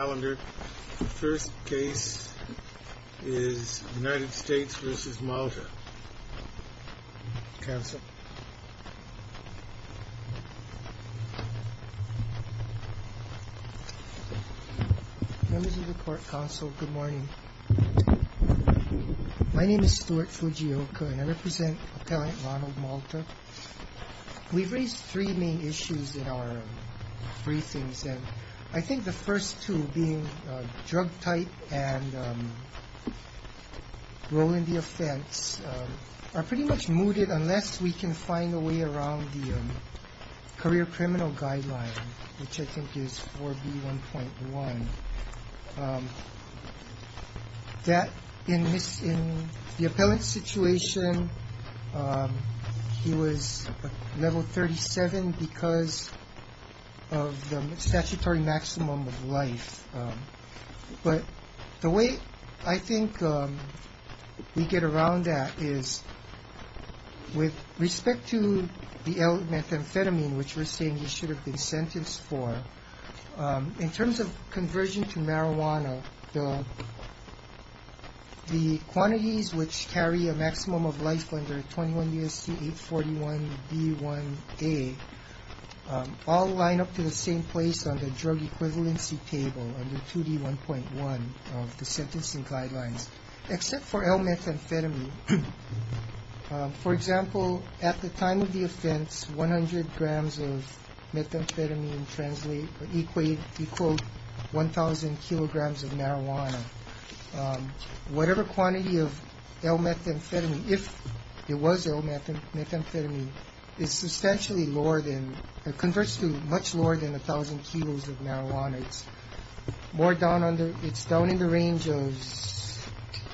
Members of the Court Council, good morning. My name is Stuart Fujioka, and I represent Appellant Ronald Malta. We've raised three main issues in our briefings, and I think the first two, being drug type and role in the offense, are pretty much mooted unless we can find a way around the career criminal guideline, which I think is 4B1.1. In the statutory maximum of life, but the way I think we get around that is with respect to the L methamphetamine, which we're saying he should have been sentenced for, in terms of conversion to marijuana, the quantities which carry a maximum of life under 21 BST 841 B1A all line up to the same place on the drug equivalency table under 2D1.1 of the sentencing guidelines, except for L methamphetamine. For example, at the time of the offense, 100 grams of methamphetamine equaled 1,000 kilograms of marijuana. Whatever quantity of L methamphetamine, if it was L much lower than 1,000 kilos of marijuana, it's down in the range of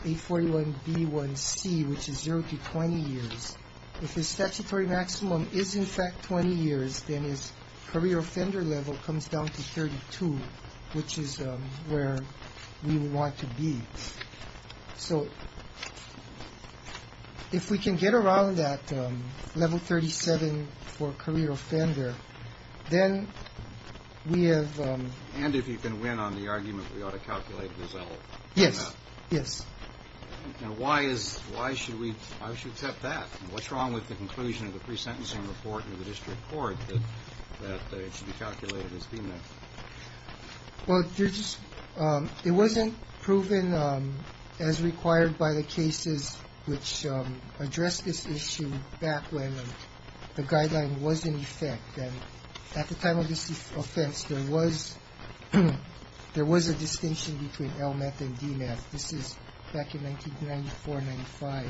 841 B1C, which is 0 to 20 years. If his statutory maximum is in fact 20 years, then his career offender level comes down to Then we have... And if you can win on the argument we ought to calculate the result. Yes, yes. Now why should we accept that? What's wrong with the conclusion of the pre-sentencing report in the district court that it should be calculated as female? Well, it wasn't proven as required by the cases which addressed this issue back when the guideline was in effect. At the time of this offense, there was a distinction between L meth and D meth. This is back in 1994-95.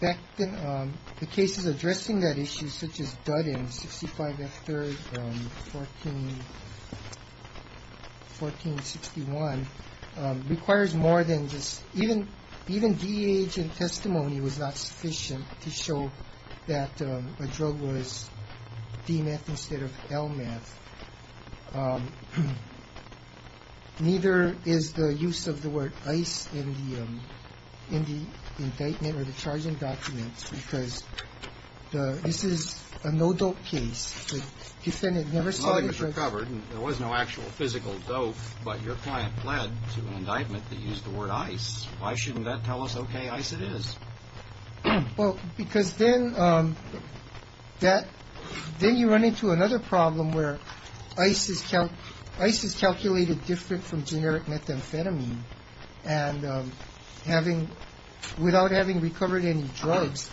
The cases addressing that issue, such as Dudden, 65 F 3rd, 1461, requires more than just... Even DEH in testimony was not sufficient to show that a drug was D meth instead of L meth. Neither is the use of the word ice in the indictment or the charging documents because this is a no-dope case. The defendant never saw the drug... to an indictment that used the word ice. Why shouldn't that tell us, okay, ice it is? Well, because then you run into another problem where ice is calculated different from generic methamphetamine and without having recovered any drugs,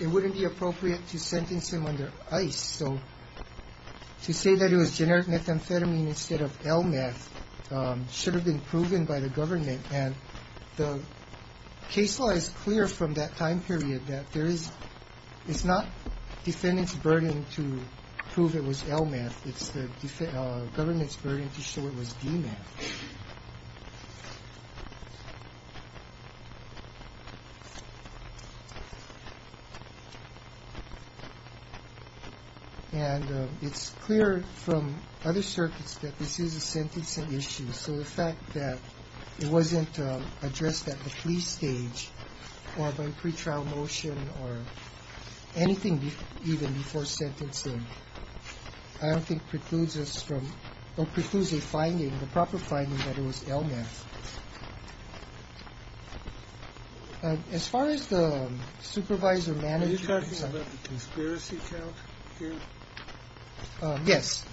it wouldn't be appropriate to sentence him under ice. So to say that it was generic methamphetamine instead of L meth should have been proven by the government and the case law is clear from that time period that there is... It's not defendant's burden to prove it was L meth. It's the government's burden to show it was D meth. And it's clear from other circuits that this is a sentencing issue. So the fact that it wasn't addressed at the plea stage or by pretrial motion or anything even before sentencing, I don't think precludes us from... or precludes a finding, the proper finding, that it was L meth. As far as the supervisor manager... Are you talking about the conspiracy count here? Yes.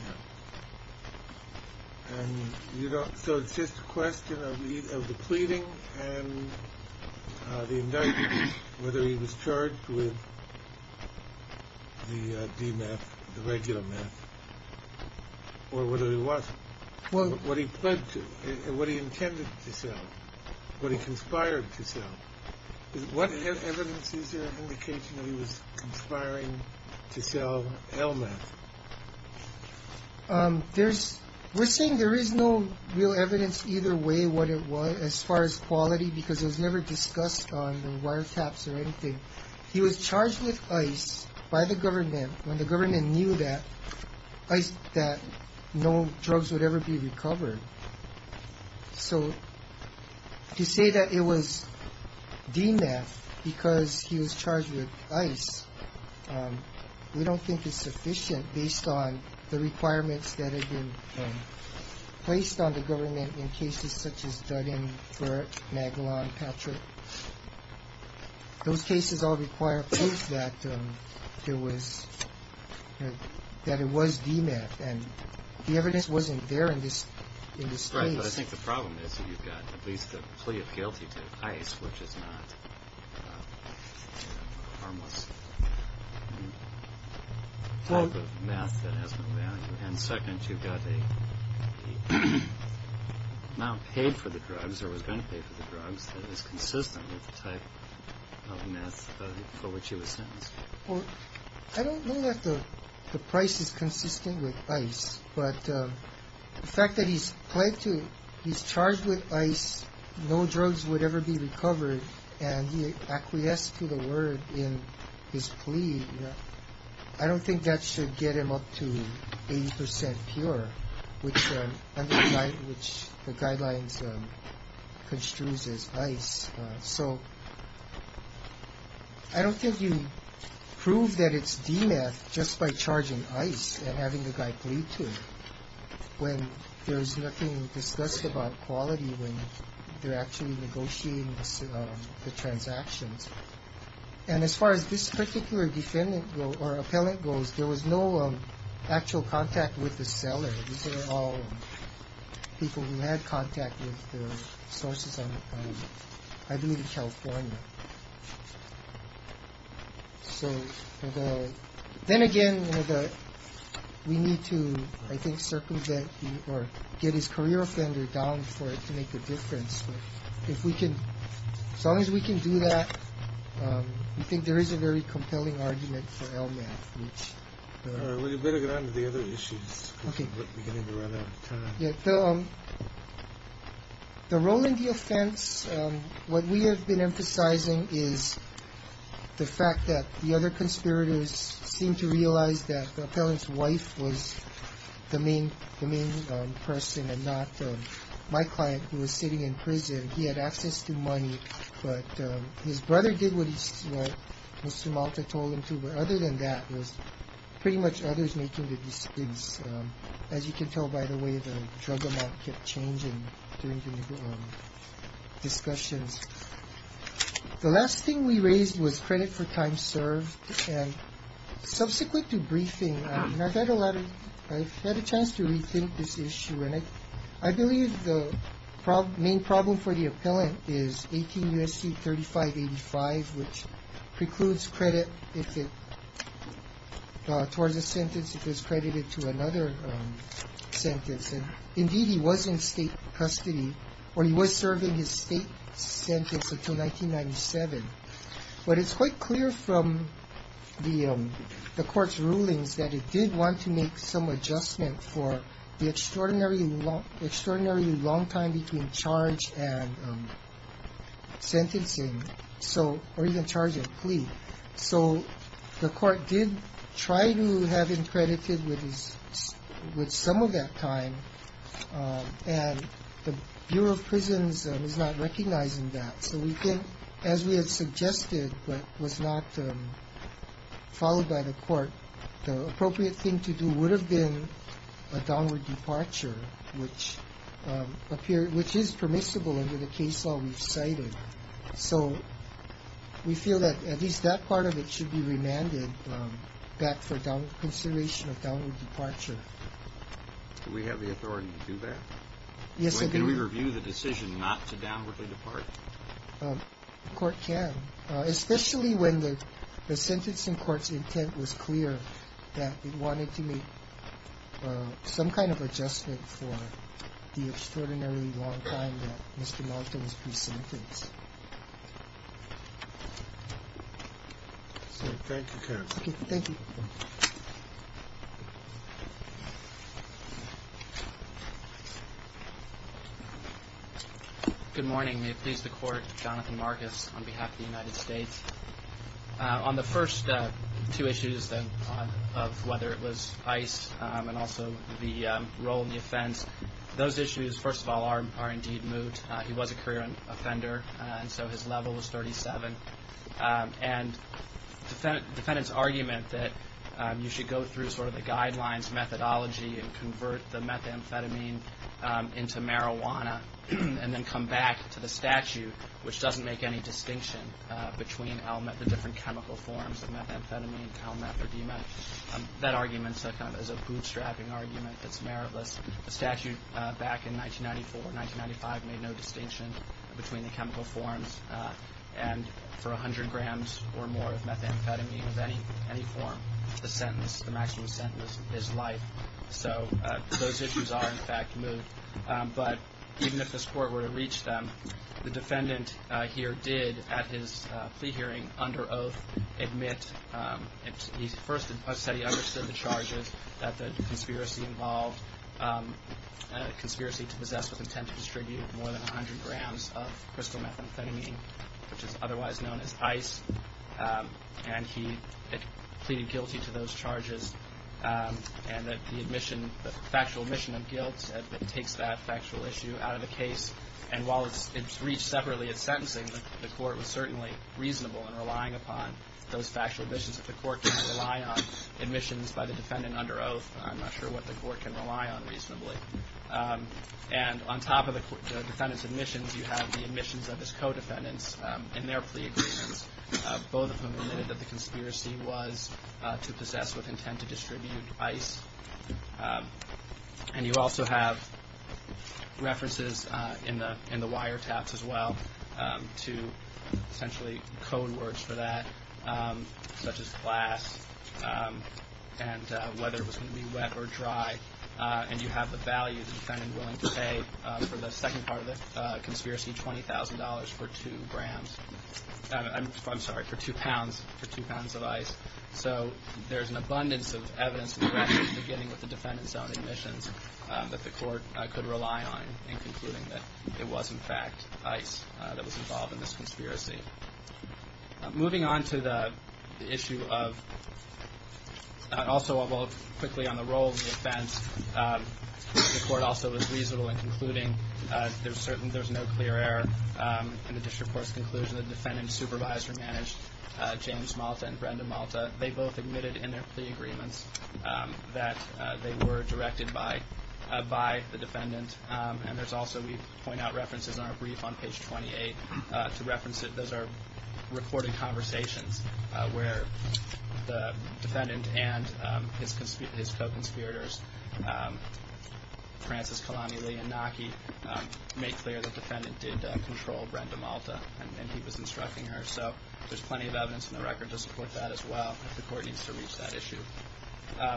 And so it's just a question of the pleading and the indictment, whether he was charged with the D meth, the regular meth, or whether he was. What he pled to, what he intended to sell, what he conspired to sell. What evidence is there indicating that he was conspiring to sell L meth? We're saying there is no real evidence either way what it was as far as quality because it was never discussed on the wiretaps or anything. He was charged with ice by the government when the government knew that no drugs would ever be recovered. So to say that it was D meth because he was charged with ice, we don't think it's sufficient based on the requirements that have been placed on the government in cases such as Dunning, Burt, Magellan, Patrick. Those cases all require proof that it was D meth and the evidence wasn't there in this case. Right, but I think the problem is that you've got at least a plea of guilty to ice, which is not harmless type of meth that has no value. And second, you've got a man paid for the drugs or was going to pay for the drugs that is consistent with the type of meth for which he was sentenced. Well, I don't know that the price is consistent with ice, but the fact that he's charged with ice, no drugs would ever be recovered, and he acquiesced to the word in his plea, I don't think that should get him up to 80% pure, which the guidelines construes as ice. So I don't think you prove that it's D meth just by charging ice and having the guy plead to when there's nothing discussed about quality when they're actually negotiating the transactions. And as far as this particular defendant or appellant goes, there was no actual contact with the seller. These were all people who had contact with the sources on Idlewood, California. So then again, we need to, I think, circumvent or get his career offender down for it to make a difference. If we can, as long as we can do that, we think there is a very compelling argument for L meth. We'd better get on to the other issues. We're getting to run out of time. The role in the offense, what we have been emphasizing is the fact that the other conspirators seem to realize that the appellant's wife was the main person and not my client who was sitting in prison. He had access to money, but his brother did what Mr. Malta told him to. But other than that, it was pretty much others making the decisions. As you can tell by the way the drug amount kept changing during the discussions. The last thing we raised was credit for time served. Subsequent to briefing, I've had a chance to rethink this issue. I believe the main problem for the appellant is 18 U.S.C. 3585, which precludes credit if it towards a sentence if it's credited to another sentence. Indeed, he was in State custody, or he was serving his State sentence until 1997. But it's quite clear from the Court's rulings that it did want to make some adjustment for the extraordinarily long time between charge and sentencing, or even charge and plea. So the Court did try to have him credited with some of that time, and the Bureau of Prisons was not recognizing that. So we think, as we had suggested but was not followed by the Court, the appropriate thing to do would have been a downward departure, which is permissible under the case law we've cited. So we feel that at least that part of it should be remanded back for consideration of downward departure. Do we have the authority to do that? Yes, I do. Can we review the decision not to downwardly depart? The Court can, especially when the sentencing court's intent was clear that it wanted to make some kind of adjustment for the extraordinarily long time that Mr. Longton was presentenced. Thank you, counsel. Thank you. Thank you. Good morning. May it please the Court, Jonathan Marcus on behalf of the United States. On the first two issues of whether it was ICE and also the role in the offense, those issues, first of all, are indeed moot. He was a career offender, and so his level was 37. And defendants' argument that you should go through sort of the guidelines, methodology, and convert the methamphetamine into marijuana and then come back to the statute, which doesn't make any distinction between the different chemical forms of methamphetamine, Talmet, or Demet, that argument is a bootstrapping argument that's meritless. The statute back in 1994, 1995, made no distinction between the chemical forms. And for 100 grams or more of methamphetamine of any form, the sentence, the maximum sentence is life. So those issues are, in fact, moot. But even if this Court were to reach them, the defendant here did, at his plea hearing, under oath admit, he first said he understood the charges, that the conspiracy involved, a conspiracy to possess with intent to distribute more than 100 grams of crystal methamphetamine, which is otherwise known as ICE. And he pleaded guilty to those charges and that the admission, the factual admission of guilt takes that factual issue out of the case. And while it's reached separately at sentencing, the Court was certainly reasonable in relying upon those factual admissions. If the Court can't rely on admissions by the defendant under oath, I'm not sure what the Court can rely on reasonably. And on top of the defendant's admissions, you have the admissions of his co-defendants in their plea agreements, both of whom admitted that the conspiracy was to possess with intent to distribute ICE. And you also have references in the wiretaps as well to essentially code words for that, such as glass and whether it was going to be wet or dry. And you have the value the defendant is willing to pay for the second part of the conspiracy, $20,000 for two grams. I'm sorry, for two pounds, for two pounds of ICE. So there's an abundance of evidence in the record, beginning with the defendant's own admissions, that the Court could rely on in concluding that it was, in fact, ICE that was involved in this conspiracy. Moving on to the issue of also quickly on the role of the offense, the Court also was reasonable in concluding there's no clear error. In the district court's conclusion, the defendant's supervisor managed James Malta and Brenda Malta. They both admitted in their plea agreements that they were directed by the defendant. And there's also, we point out references in our brief on page 28, to reference that those are recorded conversations, where the defendant and his co-conspirators, Francis Kalani Lee and Naki, make clear the defendant did control Brenda Malta and he was instructing her. So there's plenty of evidence in the record to support that as well, if the Court needs to reach that issue.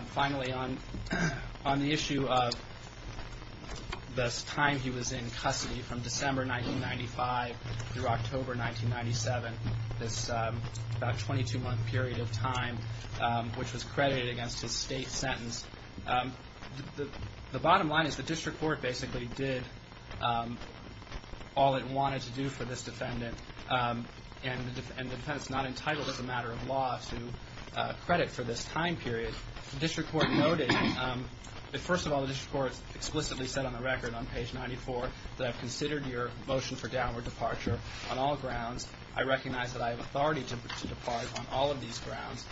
Finally, on the issue of the time he was in custody, from December 1995 through October 1997, this about 22-month period of time which was credited against his state sentence. The bottom line is the district court basically did all it wanted to do for this defendant, and the defendant's not entitled as a matter of law to credit for this time period. The district court noted, first of all, the district court explicitly said on the record on page 94, that I've considered your motion for downward departure on all grounds. I recognize that I have authority to depart on all of these grounds,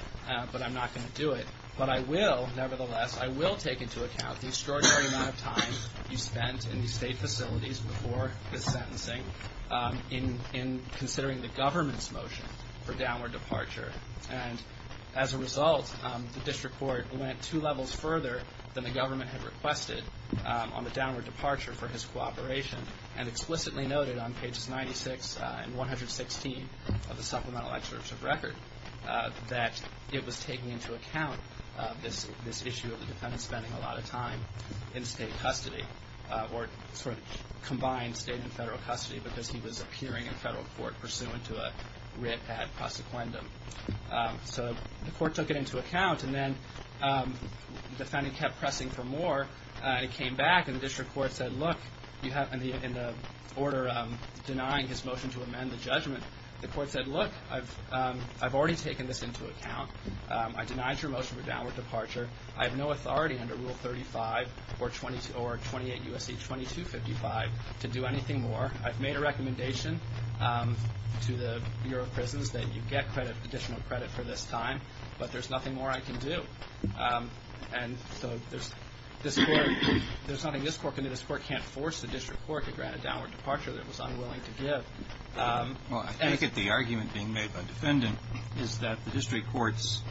but I'm not going to do it. But I will, nevertheless, I will take into account the extraordinary amount of time you spent in the state facilities before this sentencing in considering the government's motion for downward departure. And as a result, the district court went two levels further than the government had requested on the downward departure for his cooperation, and explicitly noted on pages 96 and 116 of the supplemental excerpt of record, that it was taking into account this issue of the defendant spending a lot of time in state custody, or sort of combined state and federal custody, because he was appearing in federal court pursuant to a writ ad prosequendum. So the court took it into account, and then the defendant kept pressing for more, and it came back, and the district court said, look, in the order denying his motion to amend the judgment, the court said, look, I've already taken this into account. I denied your motion for downward departure. I have no authority under Rule 35 or 28 U.S.C. 2255 to do anything more. I've made a recommendation to the Bureau of Prisons that you get credit, additional credit for this time, but there's nothing more I can do. And so there's nothing this court can do. This court can't force the district court to grant a downward departure that it was unwilling to give. Well, I think that the argument being made by the defendant is that the district court's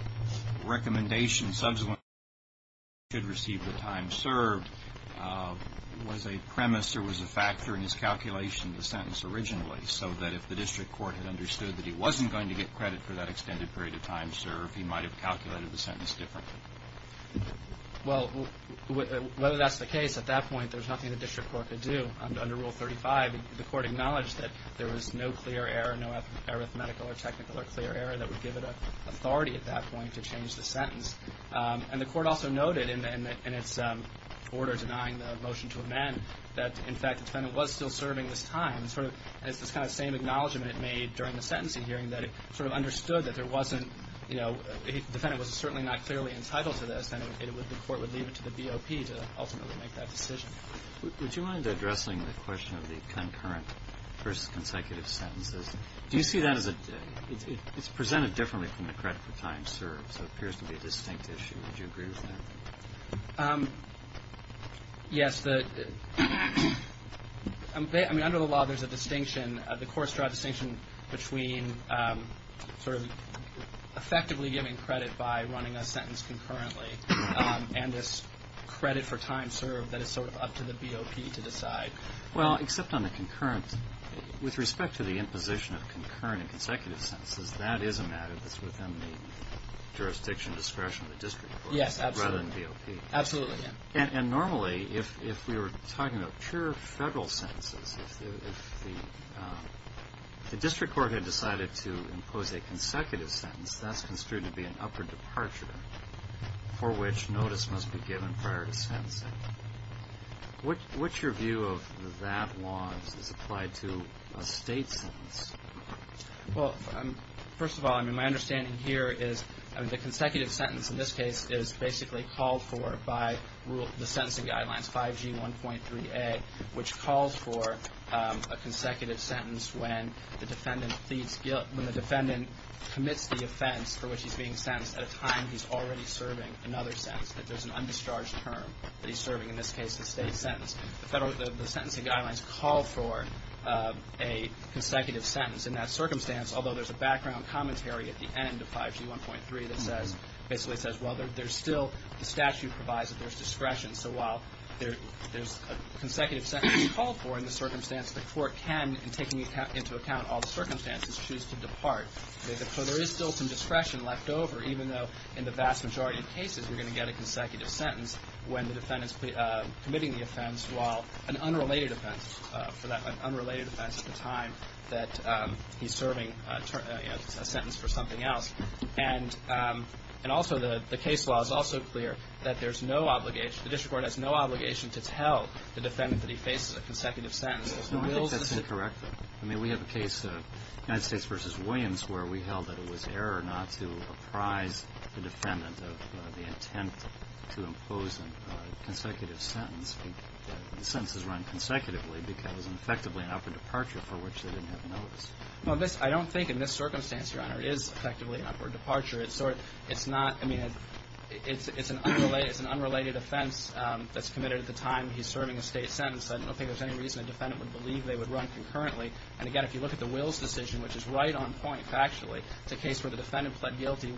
recommendation, subsequently, that he should receive the time served, was a premise or was a factor in his calculation of the sentence originally, so that if the district court had understood that he wasn't going to get credit for that extended period of time served, he might have calculated the sentence differently. Well, whether that's the case, at that point, there was nothing the district court could do. Under Rule 35, the court acknowledged that there was no clear error, no arithmetical or technical or clear error that would give it authority at that point to change the sentence. And the court also noted in its order denying the motion to amend that, in fact, the defendant was still serving this time, sort of as this kind of same acknowledgment made during the sentencing hearing that it sort of understood that there wasn't, you know, if the defendant was certainly not clearly entitled to this, then the court would leave it to the BOP to ultimately make that decision. Would you mind addressing the question of the concurrent versus consecutive sentences? Do you see that as a – it's presented differently from the credit for time served, so it appears to be a distinct issue. Would you agree with that? Yes. I mean, under the law, there's a distinction. The courts draw a distinction between sort of effectively giving credit by running a sentence concurrently and this credit for time served that is sort of up to the BOP to decide. Well, except on the concurrent – with respect to the imposition of concurrent and consecutive sentences, that is a matter that's within the jurisdiction, discretion of the district courts rather than BOP. Yes, absolutely. Absolutely, yeah. And normally, if we were talking about pure federal sentences, if the district court had decided to impose a consecutive sentence, that's construed to be an upper departure for which notice must be given prior to sentencing. What's your view of that law as it's applied to a state sentence? Well, first of all, I mean, my understanding here is the consecutive sentence in this case is basically called for by the sentencing guidelines, 5G1.3a, which calls for a consecutive sentence when the defendant commits the offense for which he's being sentenced at a time he's already serving another sentence, that there's an undischarged term that he's serving, in this case the state sentence. The sentencing guidelines call for a consecutive sentence in that circumstance, although there's a background commentary at the end of 5G1.3 that basically says, well, there's still – the statute provides that there's discretion. So while there's a consecutive sentence called for in the circumstance, the court can, in taking into account all the circumstances, choose to depart. So there is still some discretion left over, even though in the vast majority of cases you're going to get a consecutive sentence when the defendant's committing the offense while an unrelated offense, for that unrelated offense at the time that he's serving a sentence for something else. And also the case law is also clear that there's no obligation – the district court has no obligation to tell the defendant that he faces a consecutive sentence. No, I think that's incorrect, though. I mean, we have a case, United States v. Williams, where we held that it was error not to apprise the defendant of the intent to impose a consecutive sentence. The sentence is run consecutively because it's effectively an upward departure for which they didn't have notice. Well, I don't think in this circumstance, Your Honor, it is effectively an upward departure. It's not – I mean, it's an unrelated offense that's committed at the time he's serving a state sentence. I don't think there's any reason a defendant would believe they would run concurrently. And, again, if you look at the Wills decision, which is right on point factually, it's a case where the defendant pled guilty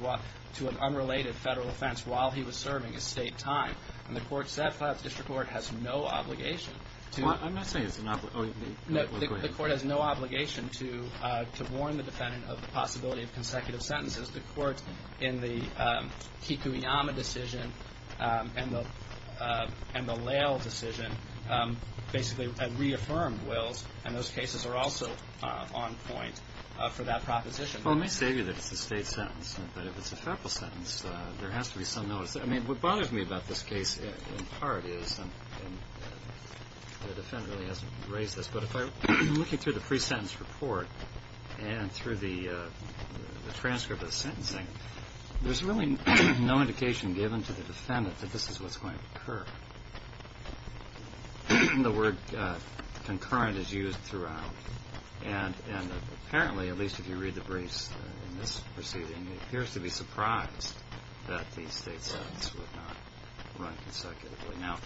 to an unrelated federal offense while he was serving his state time. And the court said the district court has no obligation to – I'm not saying it's an – oh, go ahead. The court has no obligation to warn the defendant of the possibility of consecutive sentences. The court in the Kikuyama decision and the Lail decision basically reaffirmed Wills, and those cases are also on point for that proposition. Well, let me say to you that it's a state sentence. But if it's a federal sentence, there has to be some notice. I mean, what bothers me about this case in part is – and the defendant really has raised this. But if I'm looking through the pre-sentence report and through the transcript of the sentencing, there's really no indication given to the defendant that this is what's going to occur. The word concurrent is used throughout. And apparently, at least if you read the briefs in this proceeding, he appears to be surprised that the state sentence would not run consecutively. Now,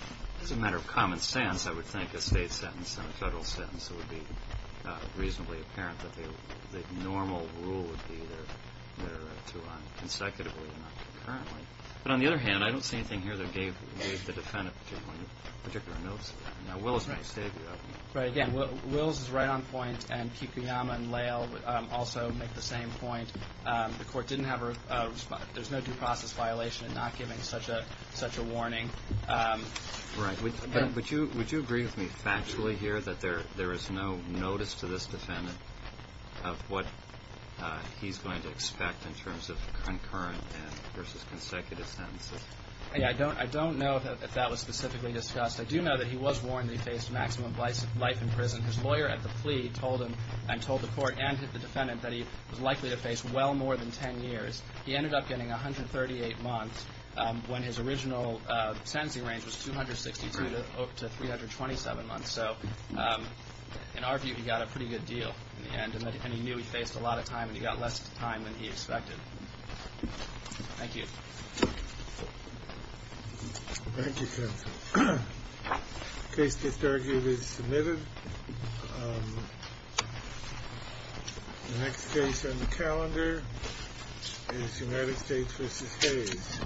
as a matter of common sense, I would think a state sentence and a federal sentence would be reasonably apparent that the normal rule would be to run consecutively and not concurrently. But on the other hand, I don't see anything here that gave the defendant particular notice. Now, Wills may say that. Right. Again, Wills is right on point, and Kikuyama and Lail also make the same point. The court didn't have a response. There's no due process violation in not giving such a warning. Right. But would you agree with me factually here that there is no notice to this defendant of what he's going to expect in terms of concurrent versus consecutive sentences? I don't know if that was specifically discussed. I do know that he was warned that he faced maximum life in prison. His lawyer at the plea told him and told the court and the defendant that he was likely to face well more than 10 years. He ended up getting 138 months when his original sentencing range was 262 to 327 months. So in our view, he got a pretty good deal in the end, and he knew he faced a lot of time, and he got less time than he expected. Thank you. Thank you, counsel. This case is submitted. The next case on the calendar is United States v. Hayes. Thank you.